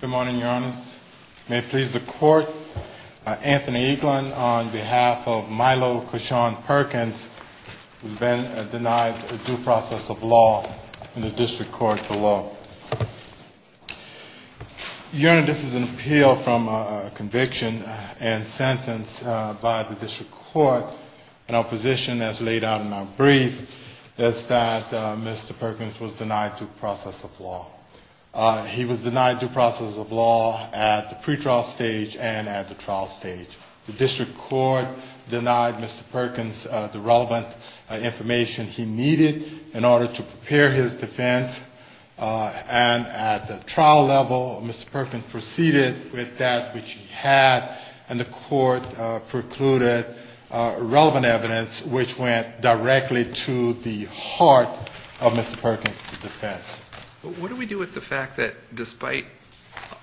Good morning, Your Honors. May it please the Court, Anthony Eaglin on behalf of Milo Cushon Perkins has been denied due process of law in the District Court of Law. Your Honor, this is an appeal from a conviction and sentence by the District Court and our position as laid out in our brief is that Mr. Perkins was denied due process of law. He was denied due process of law at the pretrial stage and at the trial stage. The District Court denied Mr. Perkins the relevant information he needed in order to prepare his defense and at the trial level Mr. Perkins proceeded with that which he had and the court precluded relevant evidence which went directly to the heart of Mr. Perkins' defense. What do we do with the fact that despite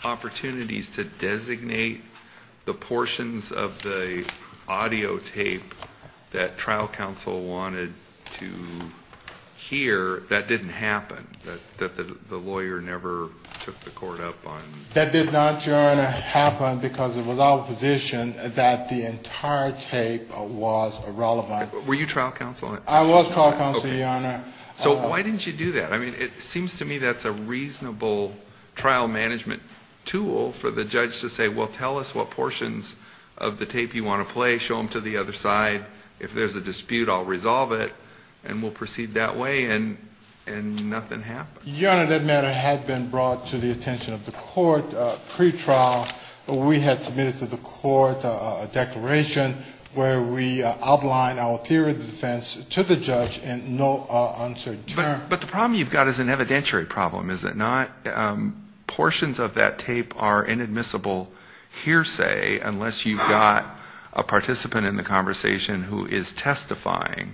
opportunities to designate the portions of the audio tape that trial counsel wanted to hear, that didn't happen, that the lawyer never took the court up on? That did not, Your Honor, happen because it was our position that the entire tape was irrelevant. Were you trial counsel? I was trial counsel, Your Honor. So why didn't you do that? I mean, it seems to me that's a reasonable trial management tool for the judge to say, well, tell us what portions of the tape you want to play, show them to the other side, if there's a dispute I'll resolve it and we'll proceed that way and nothing happened. Your Honor, that matter had been brought to the attention of the court pretrial, we had submitted to the court a declaration where we outlined our theory of defense to the judge in no uncertain terms. But the problem you've got is an evidentiary problem, is it not? Portions of that tape are inadmissible hearsay unless you've got a participant in the conversation who is testifying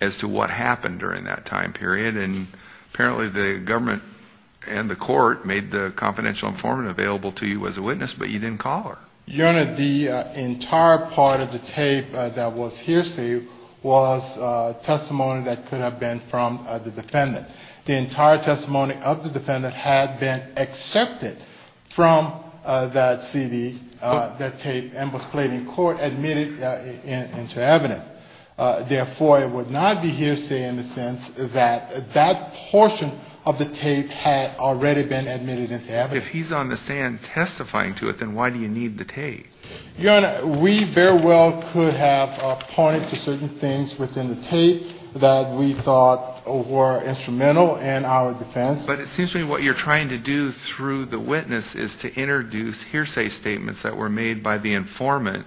as to what happened during that time period, and apparently the government and the court made the confidential informant available to you as a witness, but you didn't call her. Your Honor, the entire part of the tape that was hearsay was testimony that could have been from the defendant. The entire testimony of the defendant had been accepted from that CD, that tape, and was played in court, admitted into evidence. Therefore, it would not be hearsay in the sense that that portion of the tape had already been admitted into evidence. If he's on the stand testifying to it, then why do you need the tape? Your Honor, we very well could have pointed to certain things within the tape that we thought were instrumental in our defense. But it seems to me what you're trying to do through the witness is to introduce hearsay statements that were made by the informant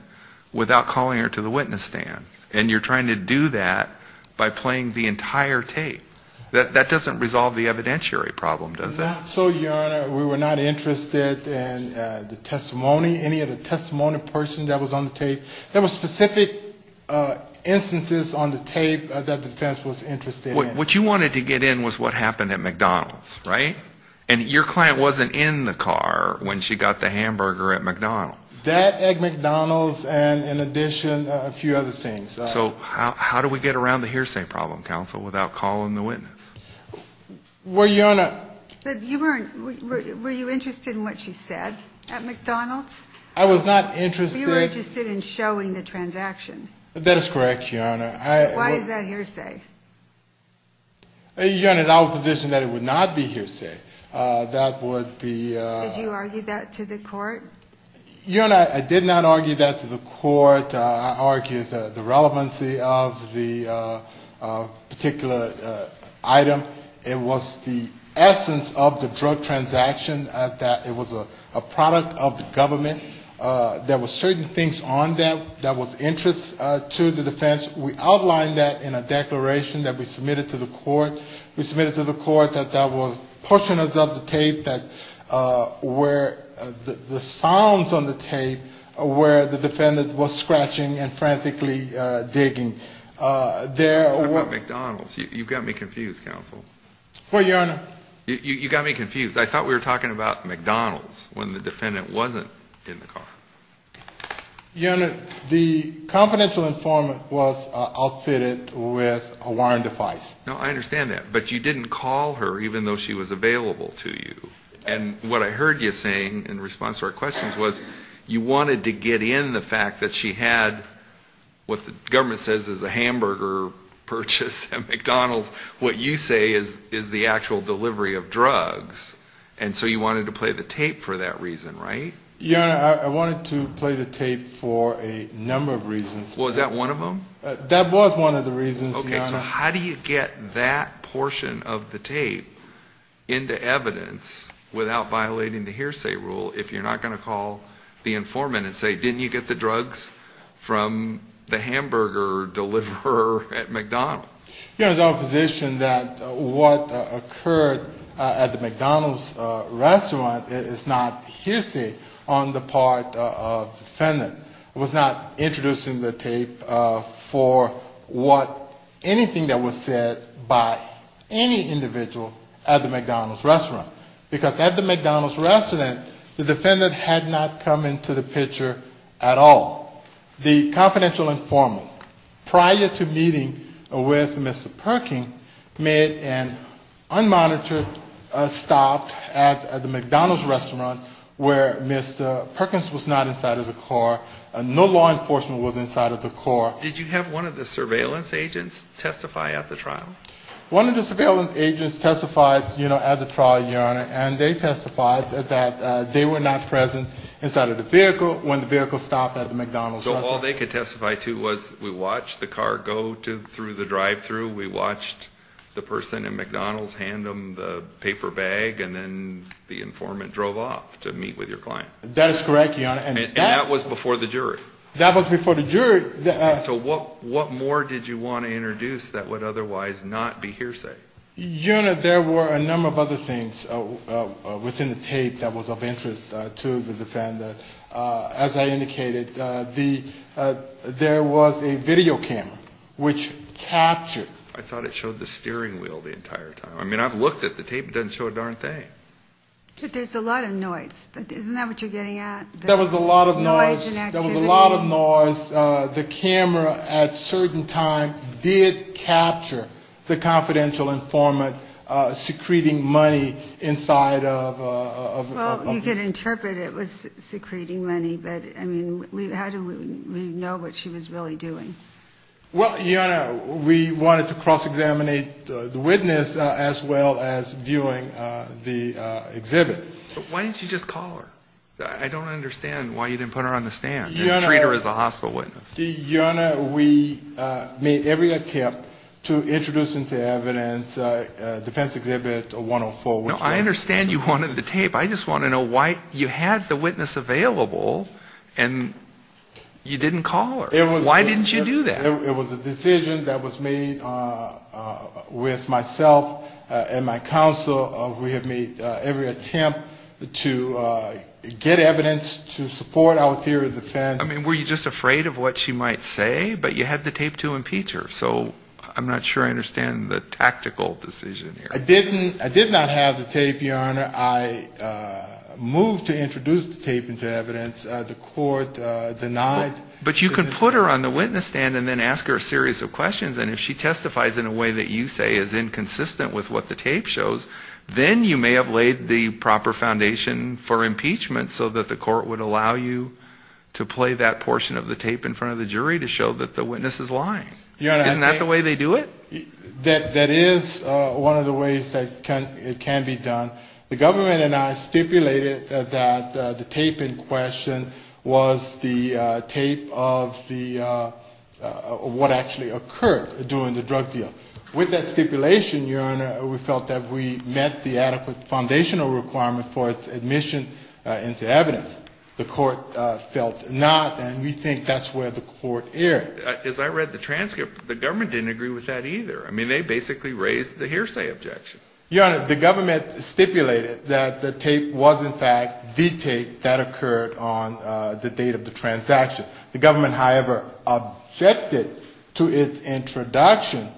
without calling her to the witness stand, and you're trying to do that by playing the entire tape. That doesn't resolve the evidentiary problem, does it? Not so, Your Honor. We were not interested in the testimony, any of the testimony persons that was on the tape. There were specific instances on the tape that the defense was interested in. What you wanted to get in was what happened at McDonald's, right? And your client wasn't in the car when she got the hamburger at McDonald's. That, at McDonald's, and in addition, a few other things. So how do we get around the hearsay problem, counsel, without calling the witness? Well, Your Honor. But you weren't, were you interested in what she said at McDonald's? I was not interested. You were interested in showing the transaction. That is correct, Your Honor. Why is that hearsay? Your Honor, I would position that it would not be hearsay. That would be. Did you argue that to the court? Your Honor, I did not argue that to the court. I argued the relevancy of the particular item. It was the essence of the drug transaction, that it was a product of the government. There were certain things on there that was of interest to the defense. We outlined that in a declaration that we submitted to the court. We submitted to the court that there were portions of the tape that were, the sounds on the tape, where the defendant was scratching and frantically digging. Talk about McDonald's. You got me confused, counsel. What, Your Honor? You got me confused. I thought we were talking about McDonald's when the defendant wasn't in the car. Your Honor, the confidential informant was outfitted with a wiring device. No, I understand that. But you didn't call her even though she was available to you. And what I heard you saying in response to our questions was you wanted to get in the fact that she had what the government says is a hamburger purchase at McDonald's. What you say is the actual delivery of drugs. And so you wanted to play the tape for that reason, right? Your Honor, I wanted to play the tape for a number of reasons. That was one of the reasons, Your Honor. Okay, so how do you get that portion of the tape into evidence without violating the hearsay rule if you're not going to call the informant and say, didn't you get the drugs from the hamburger deliverer at McDonald's? Your Honor, it's our position that what occurred at the McDonald's restaurant is not hearsay on the part of the defendant. I was not introducing the tape for what, anything that was said by any individual at the McDonald's restaurant. Because at the McDonald's restaurant, the defendant had not come into the picture at all. The confidential informant, prior to meeting with Mr. Perkins, made an unmonitored stop at the McDonald's restaurant where Mr. Perkins was not inside of the car. No law enforcement was inside of the car. Did you have one of the surveillance agents testify at the trial? One of the surveillance agents testified at the trial, Your Honor, and they testified that they were not present inside of the vehicle when the vehicle stopped at the McDonald's restaurant. So all they could testify to was we watched the car go through the drive-through, we watched the person at McDonald's hand them the paper bag, and then the informant drove off to meet with your client. That is correct, Your Honor. And that was before the jury. That was before the jury. So what more did you want to introduce that would otherwise not be hearsay? Your Honor, there were a number of other things within the tape that was of interest to the defendant. As I indicated, there was a video camera which captured. I thought it showed the steering wheel the entire time. I mean, I've looked at the tape. It doesn't show a darn thing. But there's a lot of noise. Isn't that what you're getting at? There was a lot of noise. Noise and activity. There was a lot of noise. Well, you can interpret it was secreting money. But, I mean, how do we know what she was really doing? Well, Your Honor, we wanted to cross-examine the witness as well as viewing the exhibit. Why didn't you just call her? I don't understand why you didn't put her on the stand and treat her as a hospital witness. Your Honor, we made every attempt to introduce into evidence defense exhibit 104. No, I understand you wanted the tape. I just want to know why you had the witness available and you didn't call her. Why didn't you do that? It was a decision that was made with myself and my counsel. We have made every attempt to get evidence to support our theory of defense. I mean, were you just afraid of what she might say? But you had the tape to impeach her. So I'm not sure I understand the tactical decision here. I did not have the tape, Your Honor. I moved to introduce the tape into evidence. The court denied. But you could put her on the witness stand and then ask her a series of questions. And if she testifies in a way that you say is inconsistent with what the tape shows, then you may have laid the proper foundation for impeachment so that the court would allow you to play that portion of the tape in front of the jury to show that the witness is lying. Isn't that the way they do it? That is one of the ways that it can be done. The government and I stipulated that the tape in question was the tape of what actually occurred during the drug deal. With that stipulation, Your Honor, we felt that we met the adequate foundational requirement for its admission into evidence. The court felt not, and we think that's where the court erred. As I read the transcript, the government didn't agree with that either. I mean, they basically raised the hearsay objection. Your Honor, the government stipulated that the tape was, in fact, the tape that occurred on the date of the transaction. The government, however, objected to its introduction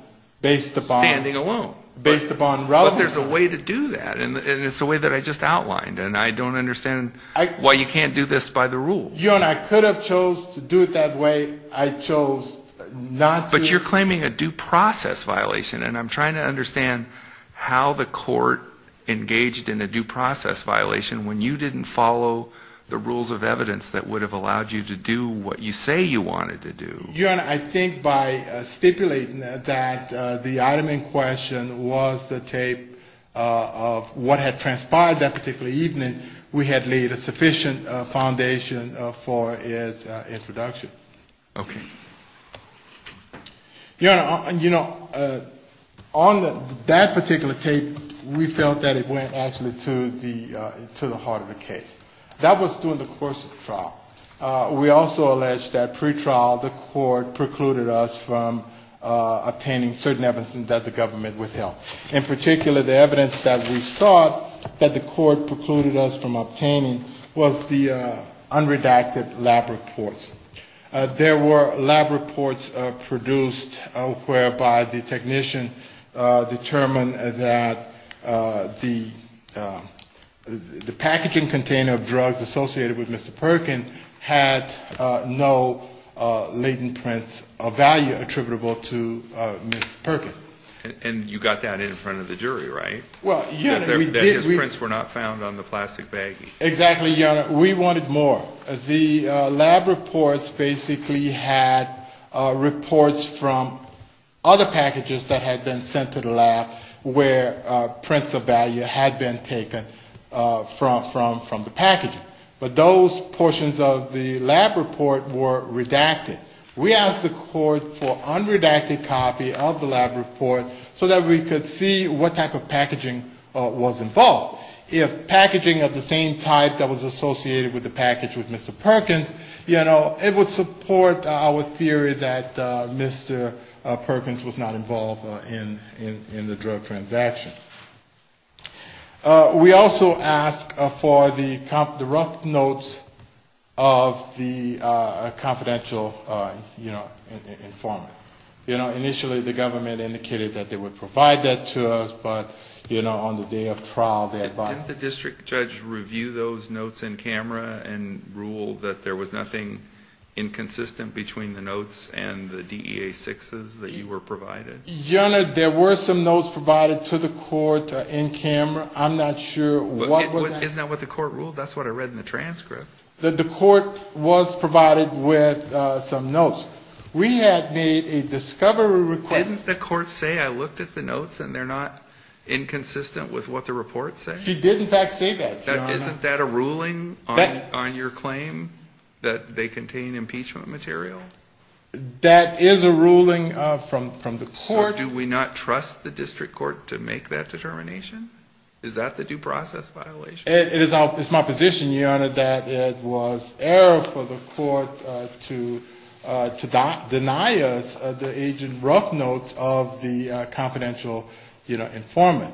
based upon relevance. But there's a way to do that, and it's the way that I just outlined. And I don't understand why you can't do this by the rules. Your Honor, I could have chose to do it that way. I chose not to. But you're claiming a due process violation, and I'm trying to understand how the court engaged in a due process violation when you didn't follow the rules of evidence that would have allowed you to do what you say you wanted to do. Your Honor, I think by stipulating that the item in question was the tape of what had transpired that particular evening, we had laid a sufficient foundation for its introduction. Okay. Your Honor, you know, on that particular tape, we felt that it went actually to the heart of the case. That was during the course of the trial. We also allege that pretrial the court precluded us from obtaining certain evidence that the government withheld. In particular, the evidence that we sought that the court precluded us from obtaining was the unredacted lab reports. There were lab reports produced whereby the technician determined that the packaging container of drugs associated with Mr. Perkins had no latent prints of value attributable to Mr. Perkins. And you got that in front of the jury, right? Well, Your Honor, we did. That his prints were not found on the plastic baggie. Exactly, Your Honor. We wanted more. The lab reports basically had reports from other packages that had been sent to the lab where prints of value had been taken from the packaging. But those portions of the lab report were redacted. We asked the court for unredacted copy of the lab report so that we could see what type of packaging was involved. If packaging of the same type that was associated with the package with Mr. Perkins, you know, it would support our theory that Mr. Perkins was not involved in the drug transaction. We also asked for the rough notes of the confidential, you know, informant. You know, initially the government indicated that they would provide that to us, but, you know, on the day of trial they advised us. Did the district judge review those notes in camera and rule that there was nothing inconsistent between the notes and the DEA-6s that you were provided? Your Honor, there were some notes provided to the court in camera. I'm not sure what was that. Isn't that what the court ruled? That's what I read in the transcript. The court was provided with some notes. We had made a discovery request. Didn't the court say I looked at the notes and they're not inconsistent with what the report said? She did, in fact, say that, Your Honor. Isn't that a ruling on your claim that they contain impeachment material? That is a ruling from the court. So do we not trust the district court to make that determination? Is that the due process violation? It is my position, Your Honor, that it was error for the court to deny us the agent rough notes of the confidential, you know, informant.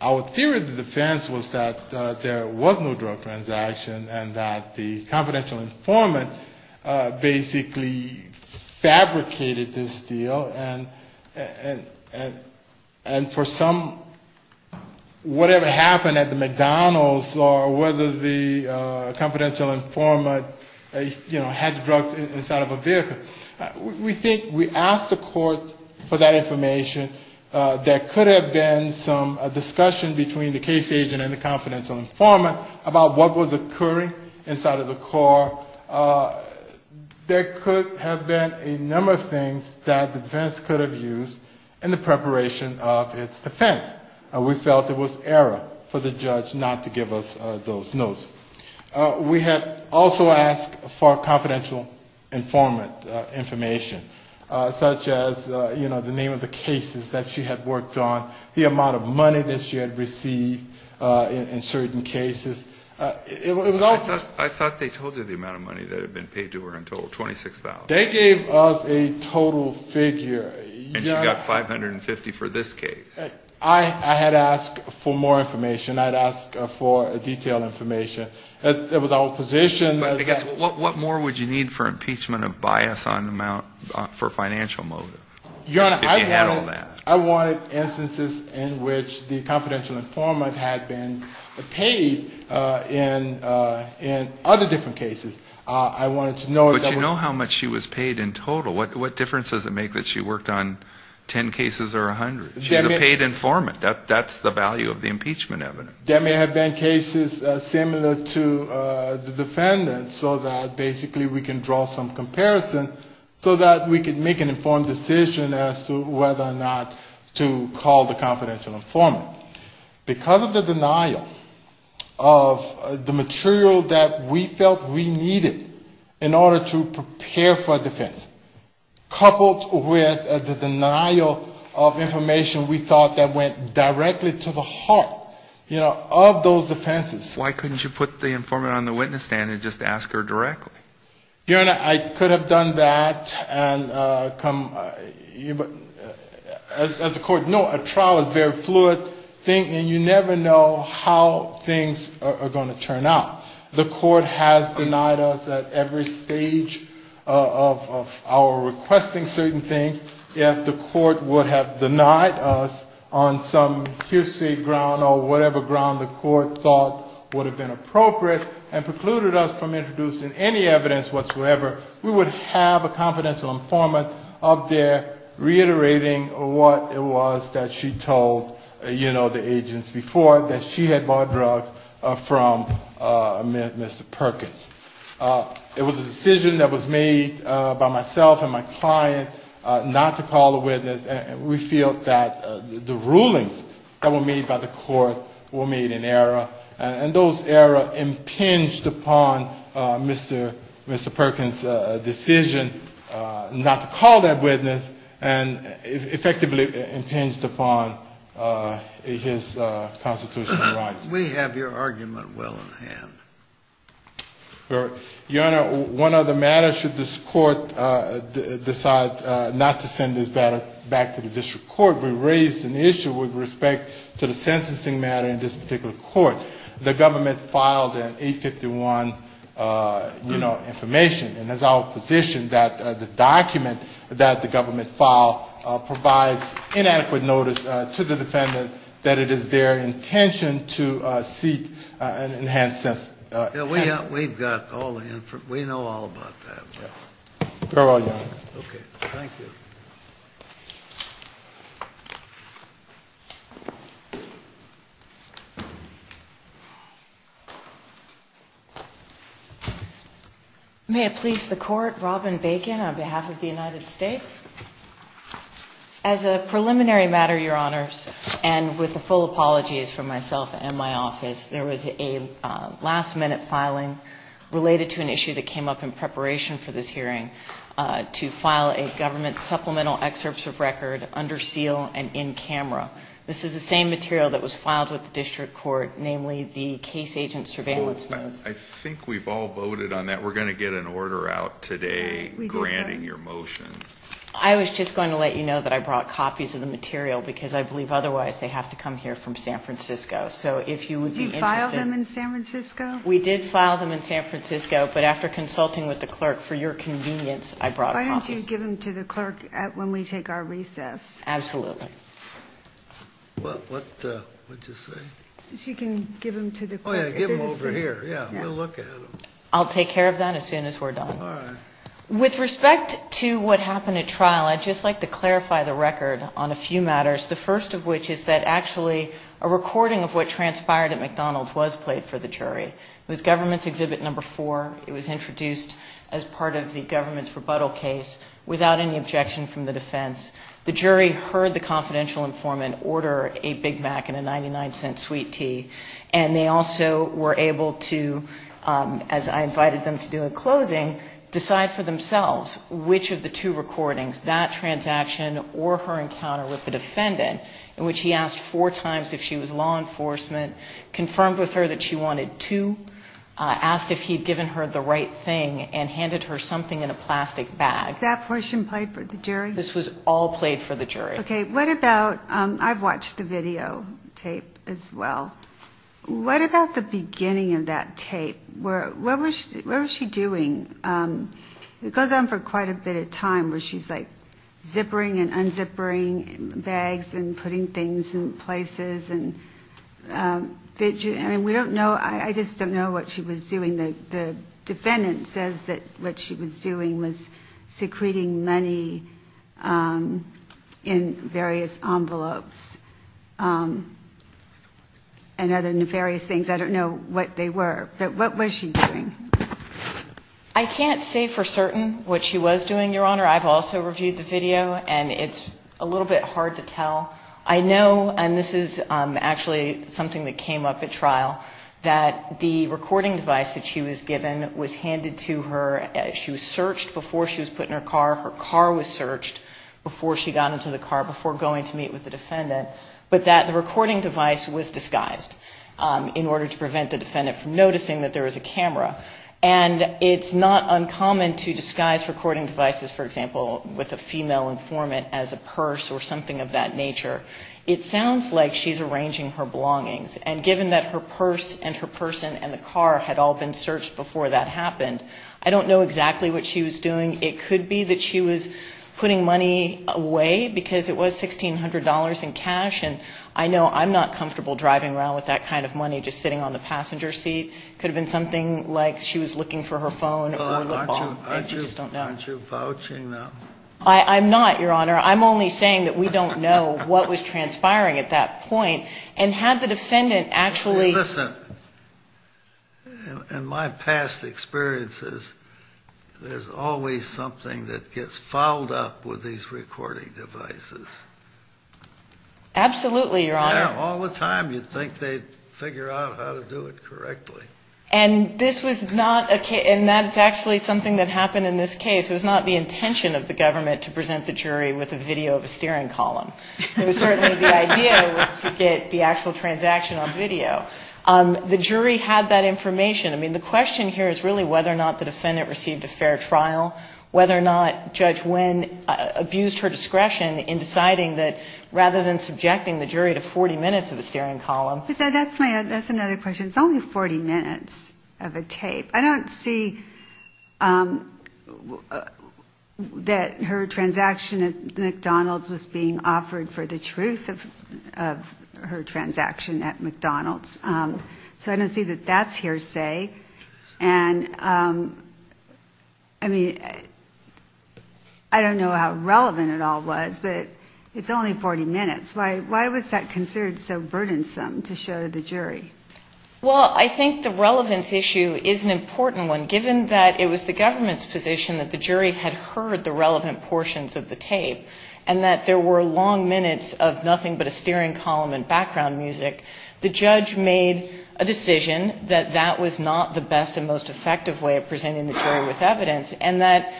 Our theory of the defense was that there was no drug transaction and that the confidential informant basically was not involved. Basically fabricated this deal and for some, whatever happened at the McDonald's or whether the confidential informant, you know, had drugs inside of a vehicle. We think we asked the court for that information. There could have been some discussion between the case agent and the confidential informant about what was occurring inside of the car. There could have been a number of things that the defense could have used in the preparation of its defense. We felt it was error for the judge not to give us those notes. We had also asked for confidential informant information, such as, you know, the name of the cases that she had worked on, the amount of money that she had received in certain cases. I thought they told you the amount of money that had been paid to her in total, $26,000. They gave us a total figure. And she got $550 for this case. I had asked for more information. I had asked for detailed information. That was our position. But I guess what more would you need for impeachment of bias on amount for financial motive if you had all that? I wanted instances in which the confidential informant had been paid in other different cases. I wanted to know if that was... But you know how much she was paid in total. What difference does it make that she worked on 10 cases or 100? She's a paid informant. That's the value of the impeachment evidence. There may have been cases similar to the defendant, so that basically we can draw some comparison, so that we can make an informed decision as to whether or not to call the confidential informant. Because of the denial of the material that we felt we needed in order to prepare for defense, coupled with the denial of information we thought that went directly to the heart, you know, of those defenses. Why couldn't you put the informant on the witness stand and just ask her directly? Your Honor, I could have done that and come... As the court knows, a trial is a very fluid thing, and you never know how things are going to turn out. The court has denied us at every stage of our requesting certain things. If the court would have denied us on some hearsay ground or whatever ground the court thought would have been appropriate and precluded us from introducing any evidence whatsoever, we would have a confidential informant up there reiterating what it was that she told, you know, the agents before, that she had bought drugs from Mr. Perkins. It was a decision that was made by myself and my client not to call the witness, and we feel that the rulings that were made by the court were made in error, and those error impinged upon Mr. Perkins' decision not to call that witness and effectively impinged upon his constitutional rights. We have your argument well in hand. Your Honor, one other matter should this court decide not to send this matter back to the district court. We raised an issue with respect to the sentencing matter in this particular court. The government filed an 851, you know, information, and it's our position that the document that the government filed provides inadequate notice to the defendant that it is their intention to seek an enhanced sentence. We've got all the information. We know all about that. May it please the Court, Robin Bacon on behalf of the United States. As a preliminary matter, Your Honors, and with the full apologies from myself and my office, there was a last-minute filing related to an issue that came up in preparation for this hearing to file a government supplemental excerpts of record under seal and in camera. This is the same material that was filed with the district court, namely the case agent surveillance notes. I think we've all voted on that. We're going to get an order out today granting your motion. I was just going to let you know that I brought copies of the material because I believe otherwise they have to come here from San Francisco. So if you would be interested. We did file them in San Francisco, but after consulting with the clerk for your convenience, I brought copies. Why don't you give them to the clerk when we take our recess? Absolutely. What did you say? You can give them to the clerk. Give them over here. We'll look at them. I'll take care of that as soon as we're done. With respect to what happened at trial, I'd just like to clarify the record on a few matters. The first of which is that actually a recording of what transpired at McDonald's was played for the jury. It was government's exhibit number four. It was introduced as part of the government's rebuttal case without any objection from the defense. The jury heard the confidential informant order a Big Mac and a 99-cent sweet tea. And they also were able to, as I invited them to do in closing, decide for themselves which of the two recordings, that transaction or her encounter with the defendant, in which he asked four times if she was law enforcement, confirmed with her that she wanted two, asked if he'd given her the right thing, and handed her something in a plastic bag. Was that portion played for the jury? This was all played for the jury. Okay, what about, I've watched the videotape as well. What about the beginning of that tape? What was she doing? It goes on for quite a bit of time where she's like zippering and unzippering bags and putting things in places. I mean, we don't know, I just don't know what she was doing. The defendant says that what she was doing was secreting money in various envelopes and other nefarious things. I don't know what they were. But what was she doing? I can't say for certain what she was doing, Your Honor. I've also reviewed the video, and it's a little bit hard to tell. I know, and this is actually something that came up at trial, that the recording device that she was given was handed to her. She was searched before she was put in her car. Her car was searched before she got into the car, before going to meet with the defendant. But that the recording device was disguised in order to prevent the defendant from noticing that there was a camera. And it's not uncommon to disguise recording devices, for example, with a female informant as a purse or something of that nature. It sounds like she's arranging her belongings. And given that her purse and her person and the car had all been searched before that happened, I don't know exactly what she was doing. It could be that she was putting money away, because it was $1,600 in cash. And I know I'm not comfortable driving around with that kind of money, just sitting on the passenger seat. It could have been something like she was looking for her phone. I just don't know. Aren't you vouching now? I'm not, Your Honor. I'm only saying that we don't know what was transpiring at that point. And had the defendant actually ---- In my past experiences, there's always something that gets fouled up with these recording devices. Absolutely, Your Honor. Yeah, all the time you'd think they'd figure out how to do it correctly. And this was not a case ---- and that's actually something that happened in this case. It was not the intention of the government to present the jury with a video of a steering column. It was certainly the idea was to get the actual transaction on video. The jury had that information. I mean, the question here is really whether or not the defendant received a fair trial, whether or not Judge Wynn abused her discretion in deciding that rather than subjecting the jury to 40 minutes of a steering column. That's another question. It's only 40 minutes of a tape. I don't see that her transaction at McDonald's was being offered for the truth of her transaction at McDonald's. So I don't see that that's hearsay. And, I mean, I don't know how relevant it all was, but it's only 40 minutes. Why was that considered so burdensome to show to the jury? Well, I think the relevance issue is an important one. Given that it was the government's position that the jury had heard the relevant portions of the tape and that there were long minutes of nothing but a steering column and background music, the judge made a decision that that was not the best and most effective way of presenting the jury with evidence and that,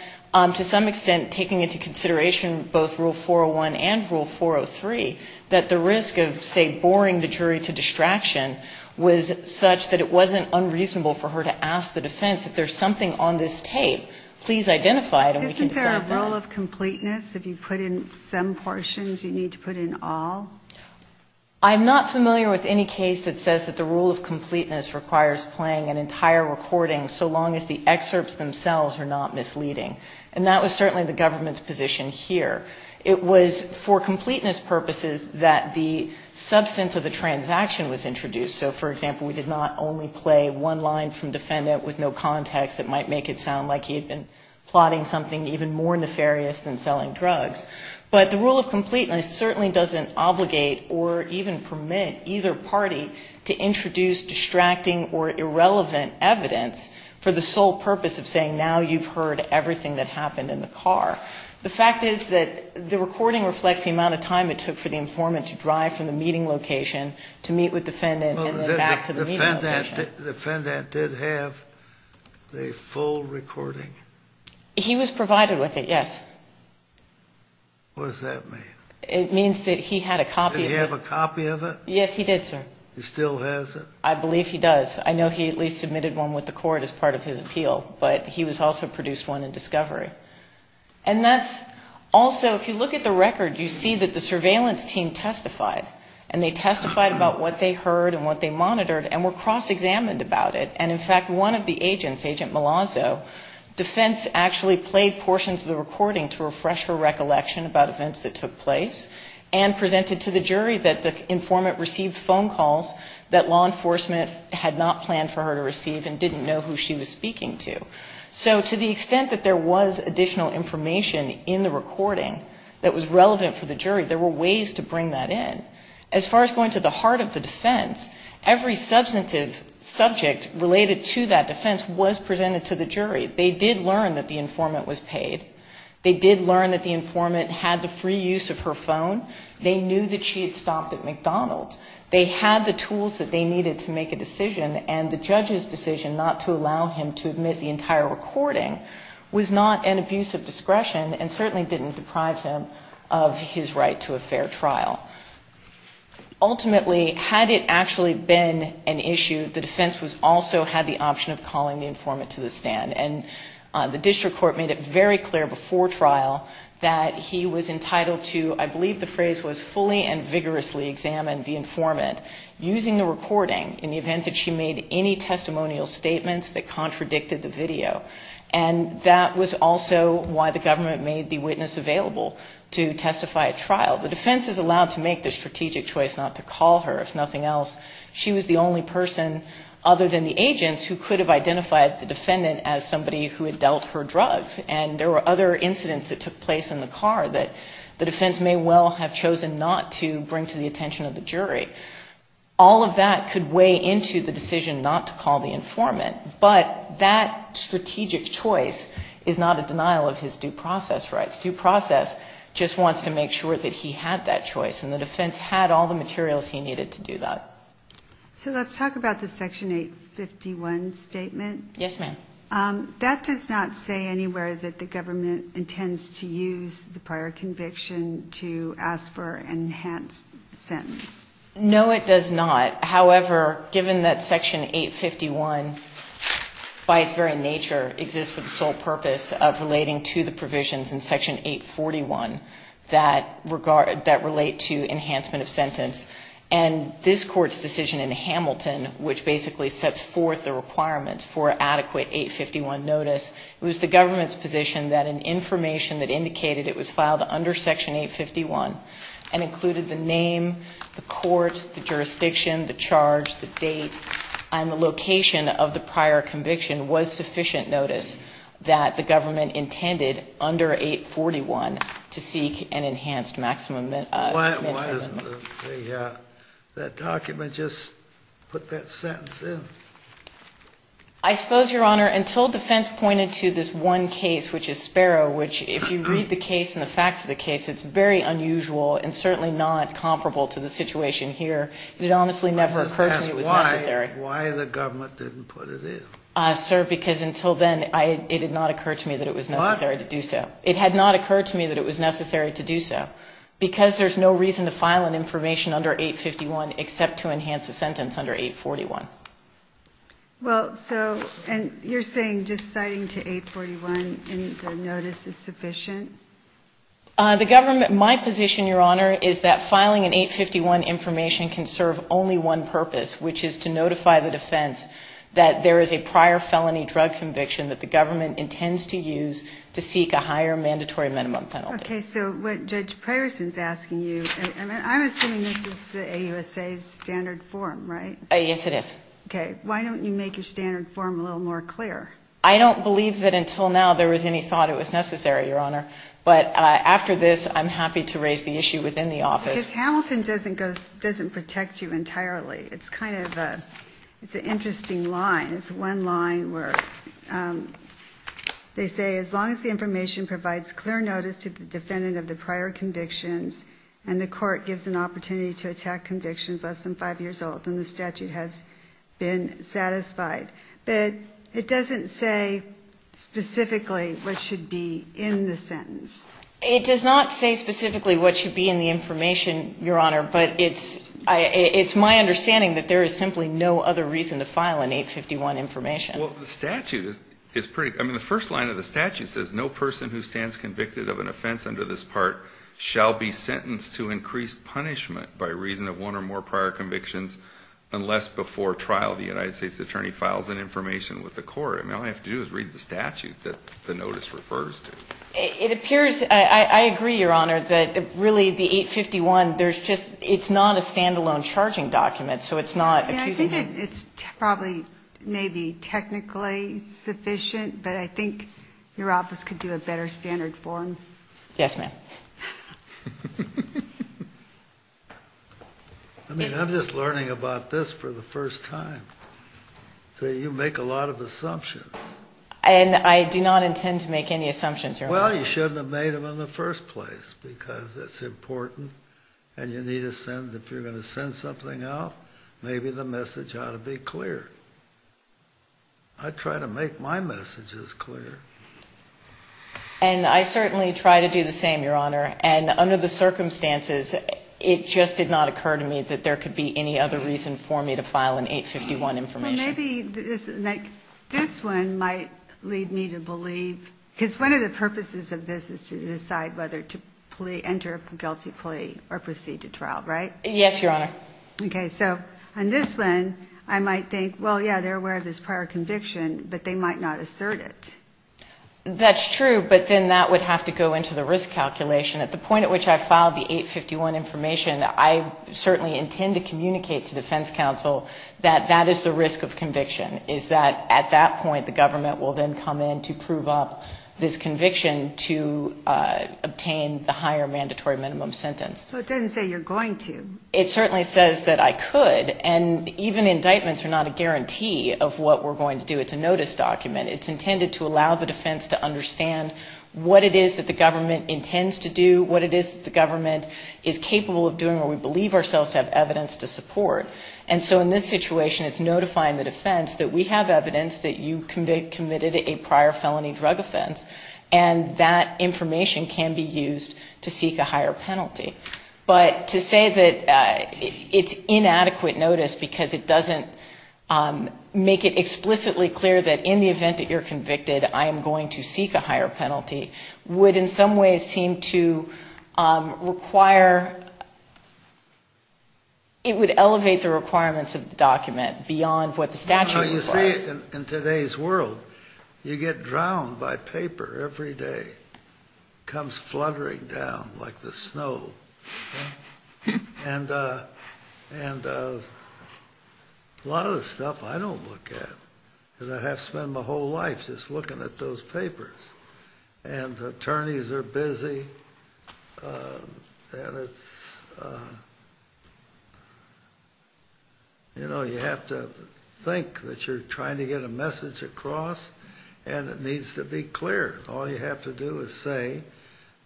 to some extent, taking into consideration both Rule 401 and Rule 403, that the risk of, say, boring the jury to distraction was such that it wasn't unreasonable for her to ask the defense, if there's something on this tape, please identify it and we can say that. Isn't there a rule of completeness? If you put in some portions, you need to put in all? I'm not familiar with any case that says that the rule of completeness requires playing an entire recording so long as the excerpts themselves are not misleading. And that was certainly the government's position here. It was for completeness purposes that the substance of the transaction was introduced. So, for example, we did not only play one line from defendant with no context that might make it sound like he had been plotting something even more nefarious than selling drugs. But the rule of completeness certainly doesn't obligate or even permit either party to introduce distracting or irrelevant evidence for the sole purpose of saying now you've heard everything that happened in the car. The fact is that the recording reflects the amount of time it took for the informant to drive from the meeting location to meet with defendant and then back to the meeting location. The defendant did have a full recording? He was provided with it, yes. What does that mean? It means that he had a copy of it. Did he have a copy of it? Yes, he did, sir. He still has it? I believe he does. I know he at least submitted one with the court as part of his appeal. But he was also produced one in discovery. And that's also, if you look at the record, you see that the surveillance team testified. And they testified about what they heard and what they monitored and were cross-examined about it. And, in fact, one of the agents, Agent Malazzo, defense actually played portions of the recording to refresh her recollection about events that took place and presented to the jury that the informant received phone calls that law enforcement had not planned for her to receive and didn't know who she was speaking to. So to the extent that there was additional information in the recording that was relevant for the jury, there were ways to bring that in. As far as going to the heart of the defense, every substantive subject related to that defense was presented to the jury. They did learn that the informant was paid. They did learn that the informant had the free use of her phone. They knew that she had stopped at McDonald's. They had the tools that they needed to make a decision. And the judge's decision not to allow him to admit the entire recording was not an abuse of discretion and certainly didn't deprive him of his right to a fair trial. Ultimately, had it actually been an issue, the defense also had the option of calling the informant to the stand. And the district court made it very clear before trial that he was entitled to, I believe the phrase was, fully and vigorously examine the informant using the recording in the event that she made any testimonial statements that contradicted the video. And that was also why the government made the witness available to testify at trial. The defense is allowed to make the strategic choice not to call her, if nothing else. She was the only person, other than the agents, who could have identified the defendant as somebody who had dealt her drugs. And there were other incidents that took place in the car that the defense may well have chosen not to bring to the attention of the jury. All of that could weigh into the decision not to call the informant. But that strategic choice is not a denial of his due process rights. Due process just wants to make sure that he had that choice. And the defense had all the materials he needed to do that. So let's talk about the Section 851 statement. Yes, ma'am. That does not say anywhere that the government intends to use the prior conviction to ask for an enhanced sentence. No, it does not. However, given that Section 851, by its very nature, exists for the sole purpose of relating to the provisions in Section 841 that relate to enhancement of sentence, and this Court's decision in Hamilton, which basically sets forth the requirements for adequate 851 notice, it was the government's position that an information that indicated it was filed under Section 851 and included the name, the court, the jurisdiction, the charge, the date, and the location of the prior conviction was sufficient notice that the government intended under 841 to seek an enhanced maximum sentence. That document just put that sentence in. I suppose, Your Honor, until defense pointed to this one case, which is Sparrow, which if you read the case and the facts of the case, it's very unusual and certainly not comparable to the situation here. It honestly never occurred to me it was necessary. Why the government didn't put it in? Sir, because until then, it did not occur to me that it was necessary to do so. What? It had not occurred to me that it was necessary to do so. Because there's no reason to file an information under 851 except to enhance a sentence under 841. Well, so, and you're saying just citing to 841 any notice is sufficient? The government, my position, Your Honor, is that filing an 851 information can serve only one purpose, which is to notify the defense that there is a prior felony drug conviction that the government intends to use to seek a higher mandatory minimum penalty. Okay. So what Judge Preyerson is asking you, and I'm assuming this is the AUSA's standard form, right? Yes, it is. Okay. Why don't you make your standard form a little more clear? I don't believe that until now there was any thought it was necessary, Your Honor. But after this, I'm happy to raise the issue within the office. Because Hamilton doesn't go, doesn't protect you entirely. It's kind of a, it's an interesting line. It's one line where they say, as long as the information provides clear notice to the defendant of the prior convictions and the court gives an opportunity to attack convictions less than five years old, then the statute has been satisfied. But it doesn't say specifically what should be in the sentence. It does not say specifically what should be in the information, Your Honor. But it's my understanding that there is simply no other reason to file an 851 information. Well, the statute is pretty, I mean, the first line of the statute says, no person who stands convicted of an offense under this part shall be sentenced to increased punishment by reason of one or more prior convictions unless before trial the United States attorney files an information with the court. I mean, all I have to do is read the statute that the notice refers to. It appears, I agree, Your Honor, that really the 851, there's just, it's not a stand-alone charging document, so it's not accusing you. I think it's probably maybe technically sufficient, but I think your office could do a better standard form. Yes, ma'am. I mean, I'm just learning about this for the first time. So you make a lot of assumptions. And I do not intend to make any assumptions, Your Honor. Well, you shouldn't have made them in the first place because it's important and you need to send, if you're going to send something out, maybe the message ought to be clear. I try to make my messages clear. And I certainly try to do the same, Your Honor, and under the circumstances, it just did not occur to me that there could be any other reason for me to file an 851 information. Maybe this one might lead me to believe, because one of the purposes of this is to decide whether to enter a guilty plea or proceed to trial, right? Yes, Your Honor. Okay, so on this one, I might think, well, yeah, they're aware of this prior conviction, but they might not assert it. That's true, but then that would have to go into the risk calculation. At the point at which I filed the 851 information, I certainly intend to communicate to defense counsel that that is the risk of conviction, is that at that point the government will then come in to prove up this conviction to obtain the higher mandatory minimum sentence. Well, it doesn't say you're going to. It certainly says that I could, and even indictments are not a guarantee of what we're going to do. It's a notice document. It's intended to allow the defense to understand what it is that the government intends to do, what it is that the government is capable of doing, or we believe ourselves to have evidence to support. And so in this situation, it's notifying the defense that we have evidence that you committed a prior felony drug offense, and that information can be used to seek a higher penalty. But to say that it's inadequate notice because it doesn't make it explicitly clear that in the event that you're convicted, I am going to seek a higher penalty would in some ways seem to require, it would elevate the requirements of the document beyond what the statute requires. You see, in today's world, you get drowned by paper every day. It comes fluttering down like the snow. And a lot of the stuff I don't look at because I have to spend my whole life just looking at those papers, and attorneys are busy, and it's, you know, you have to think that you're trying to get a message across, and it needs to be clear. All you have to do is say,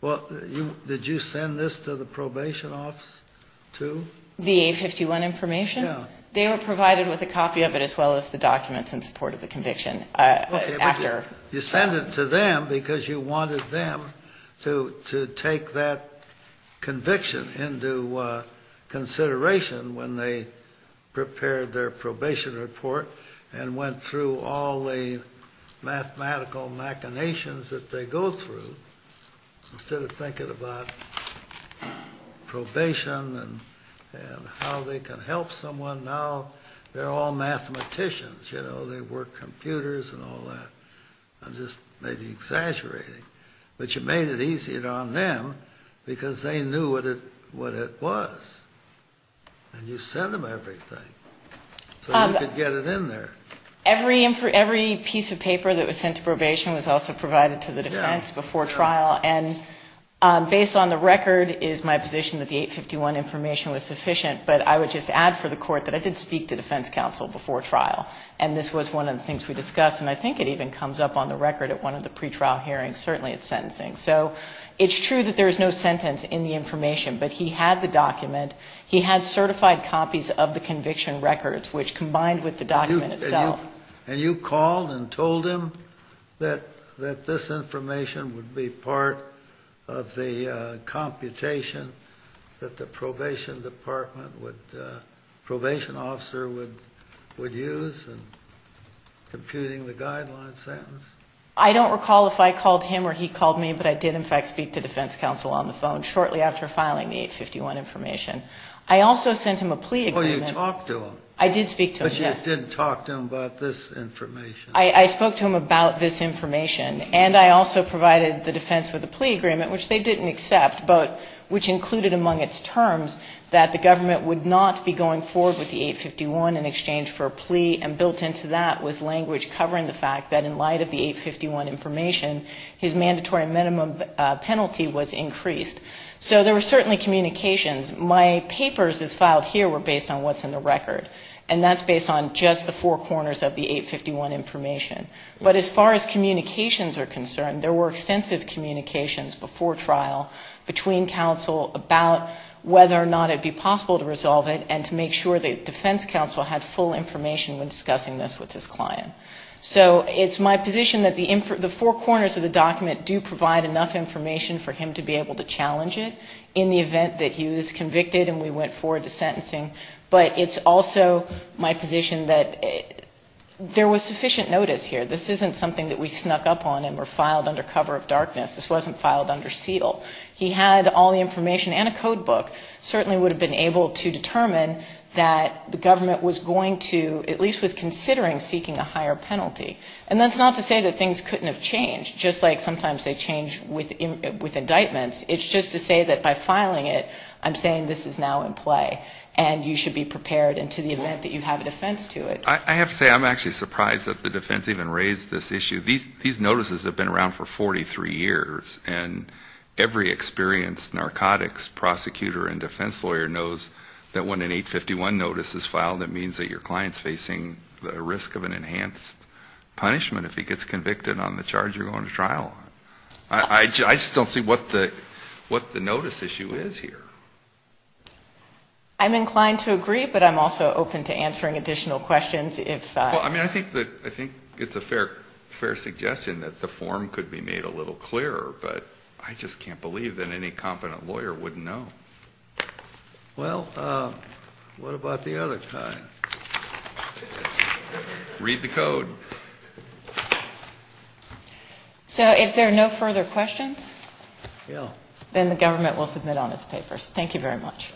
well, did you send this to the probation office too? The A51 information? Yeah. They were provided with a copy of it as well as the documents in support of the conviction after. You send it to them because you wanted them to take that conviction into consideration when they prepared their probation report and went through all the mathematical machinations that they go through Instead of thinking about probation and how they can help someone now, they're all mathematicians, you know, they work computers and all that. I'm just maybe exaggerating. But you made it easier on them because they knew what it was. And you send them everything so you could get it in there. Every piece of paper that was sent to probation was also provided to the defense before trial, and based on the record is my position that the A51 information was sufficient, but I would just add for the court that I did speak to defense counsel before trial, and this was one of the things we discussed, and I think it even comes up on the record at one of the pretrial hearings, certainly at sentencing. So it's true that there's no sentence in the information, but he had the document. He had certified copies of the conviction records, which combined with the document itself And you called and told him that this information would be part of the computation that the probation officer would use in computing the guideline sentence? I don't recall if I called him or he called me, but I did in fact speak to defense counsel on the phone shortly after filing the A51 information. I also sent him a plea agreement. Oh, you talked to him? I did speak to him, yes. Because you didn't talk to him about this information. I spoke to him about this information, and I also provided the defense with a plea agreement, which they didn't accept, but which included among its terms that the government would not be going forward with the A51 in exchange for a plea, and built into that was language covering the fact that in light of the A51 information, his mandatory minimum penalty was increased. So there were certainly communications. My papers as filed here were based on what's in the record, and that's based on just the four corners of the A51 information. But as far as communications are concerned, there were extensive communications before trial between counsel about whether or not it would be possible to resolve it and to make sure that defense counsel had full information when discussing this with his client. So it's my position that the four corners of the document do provide enough information for him to be able to challenge it in the event that he was convicted and we went forward to sentencing. But it's also my position that there was sufficient notice here. This isn't something that we snuck up on and were filed under cover of darkness. This wasn't filed under seal. He had all the information and a codebook, certainly would have been able to determine that the government was going to at least was considering seeking a higher penalty. And that's not to say that things couldn't have changed, just like sometimes they change with indictments. It's just to say that by filing it, I'm saying this is now in play. And you should be prepared in the event that you have a defense to it. I have to say I'm actually surprised that the defense even raised this issue. These notices have been around for 43 years. And every experienced narcotics prosecutor and defense lawyer knows that when an 851 notice is filed, it means that your client is facing the risk of an enhanced punishment if he gets convicted on the charge you're going to trial on. I just don't see what the notice issue is here. I'm inclined to agree, but I'm also open to answering additional questions. If I mean, I think that I think it's a fair, fair suggestion that the form could be made a little clearer, but I just can't believe that any competent lawyer wouldn't know. Well, what about the other kind? Read the code. So if there are no further questions, then the government will submit on its papers. Thank you very much.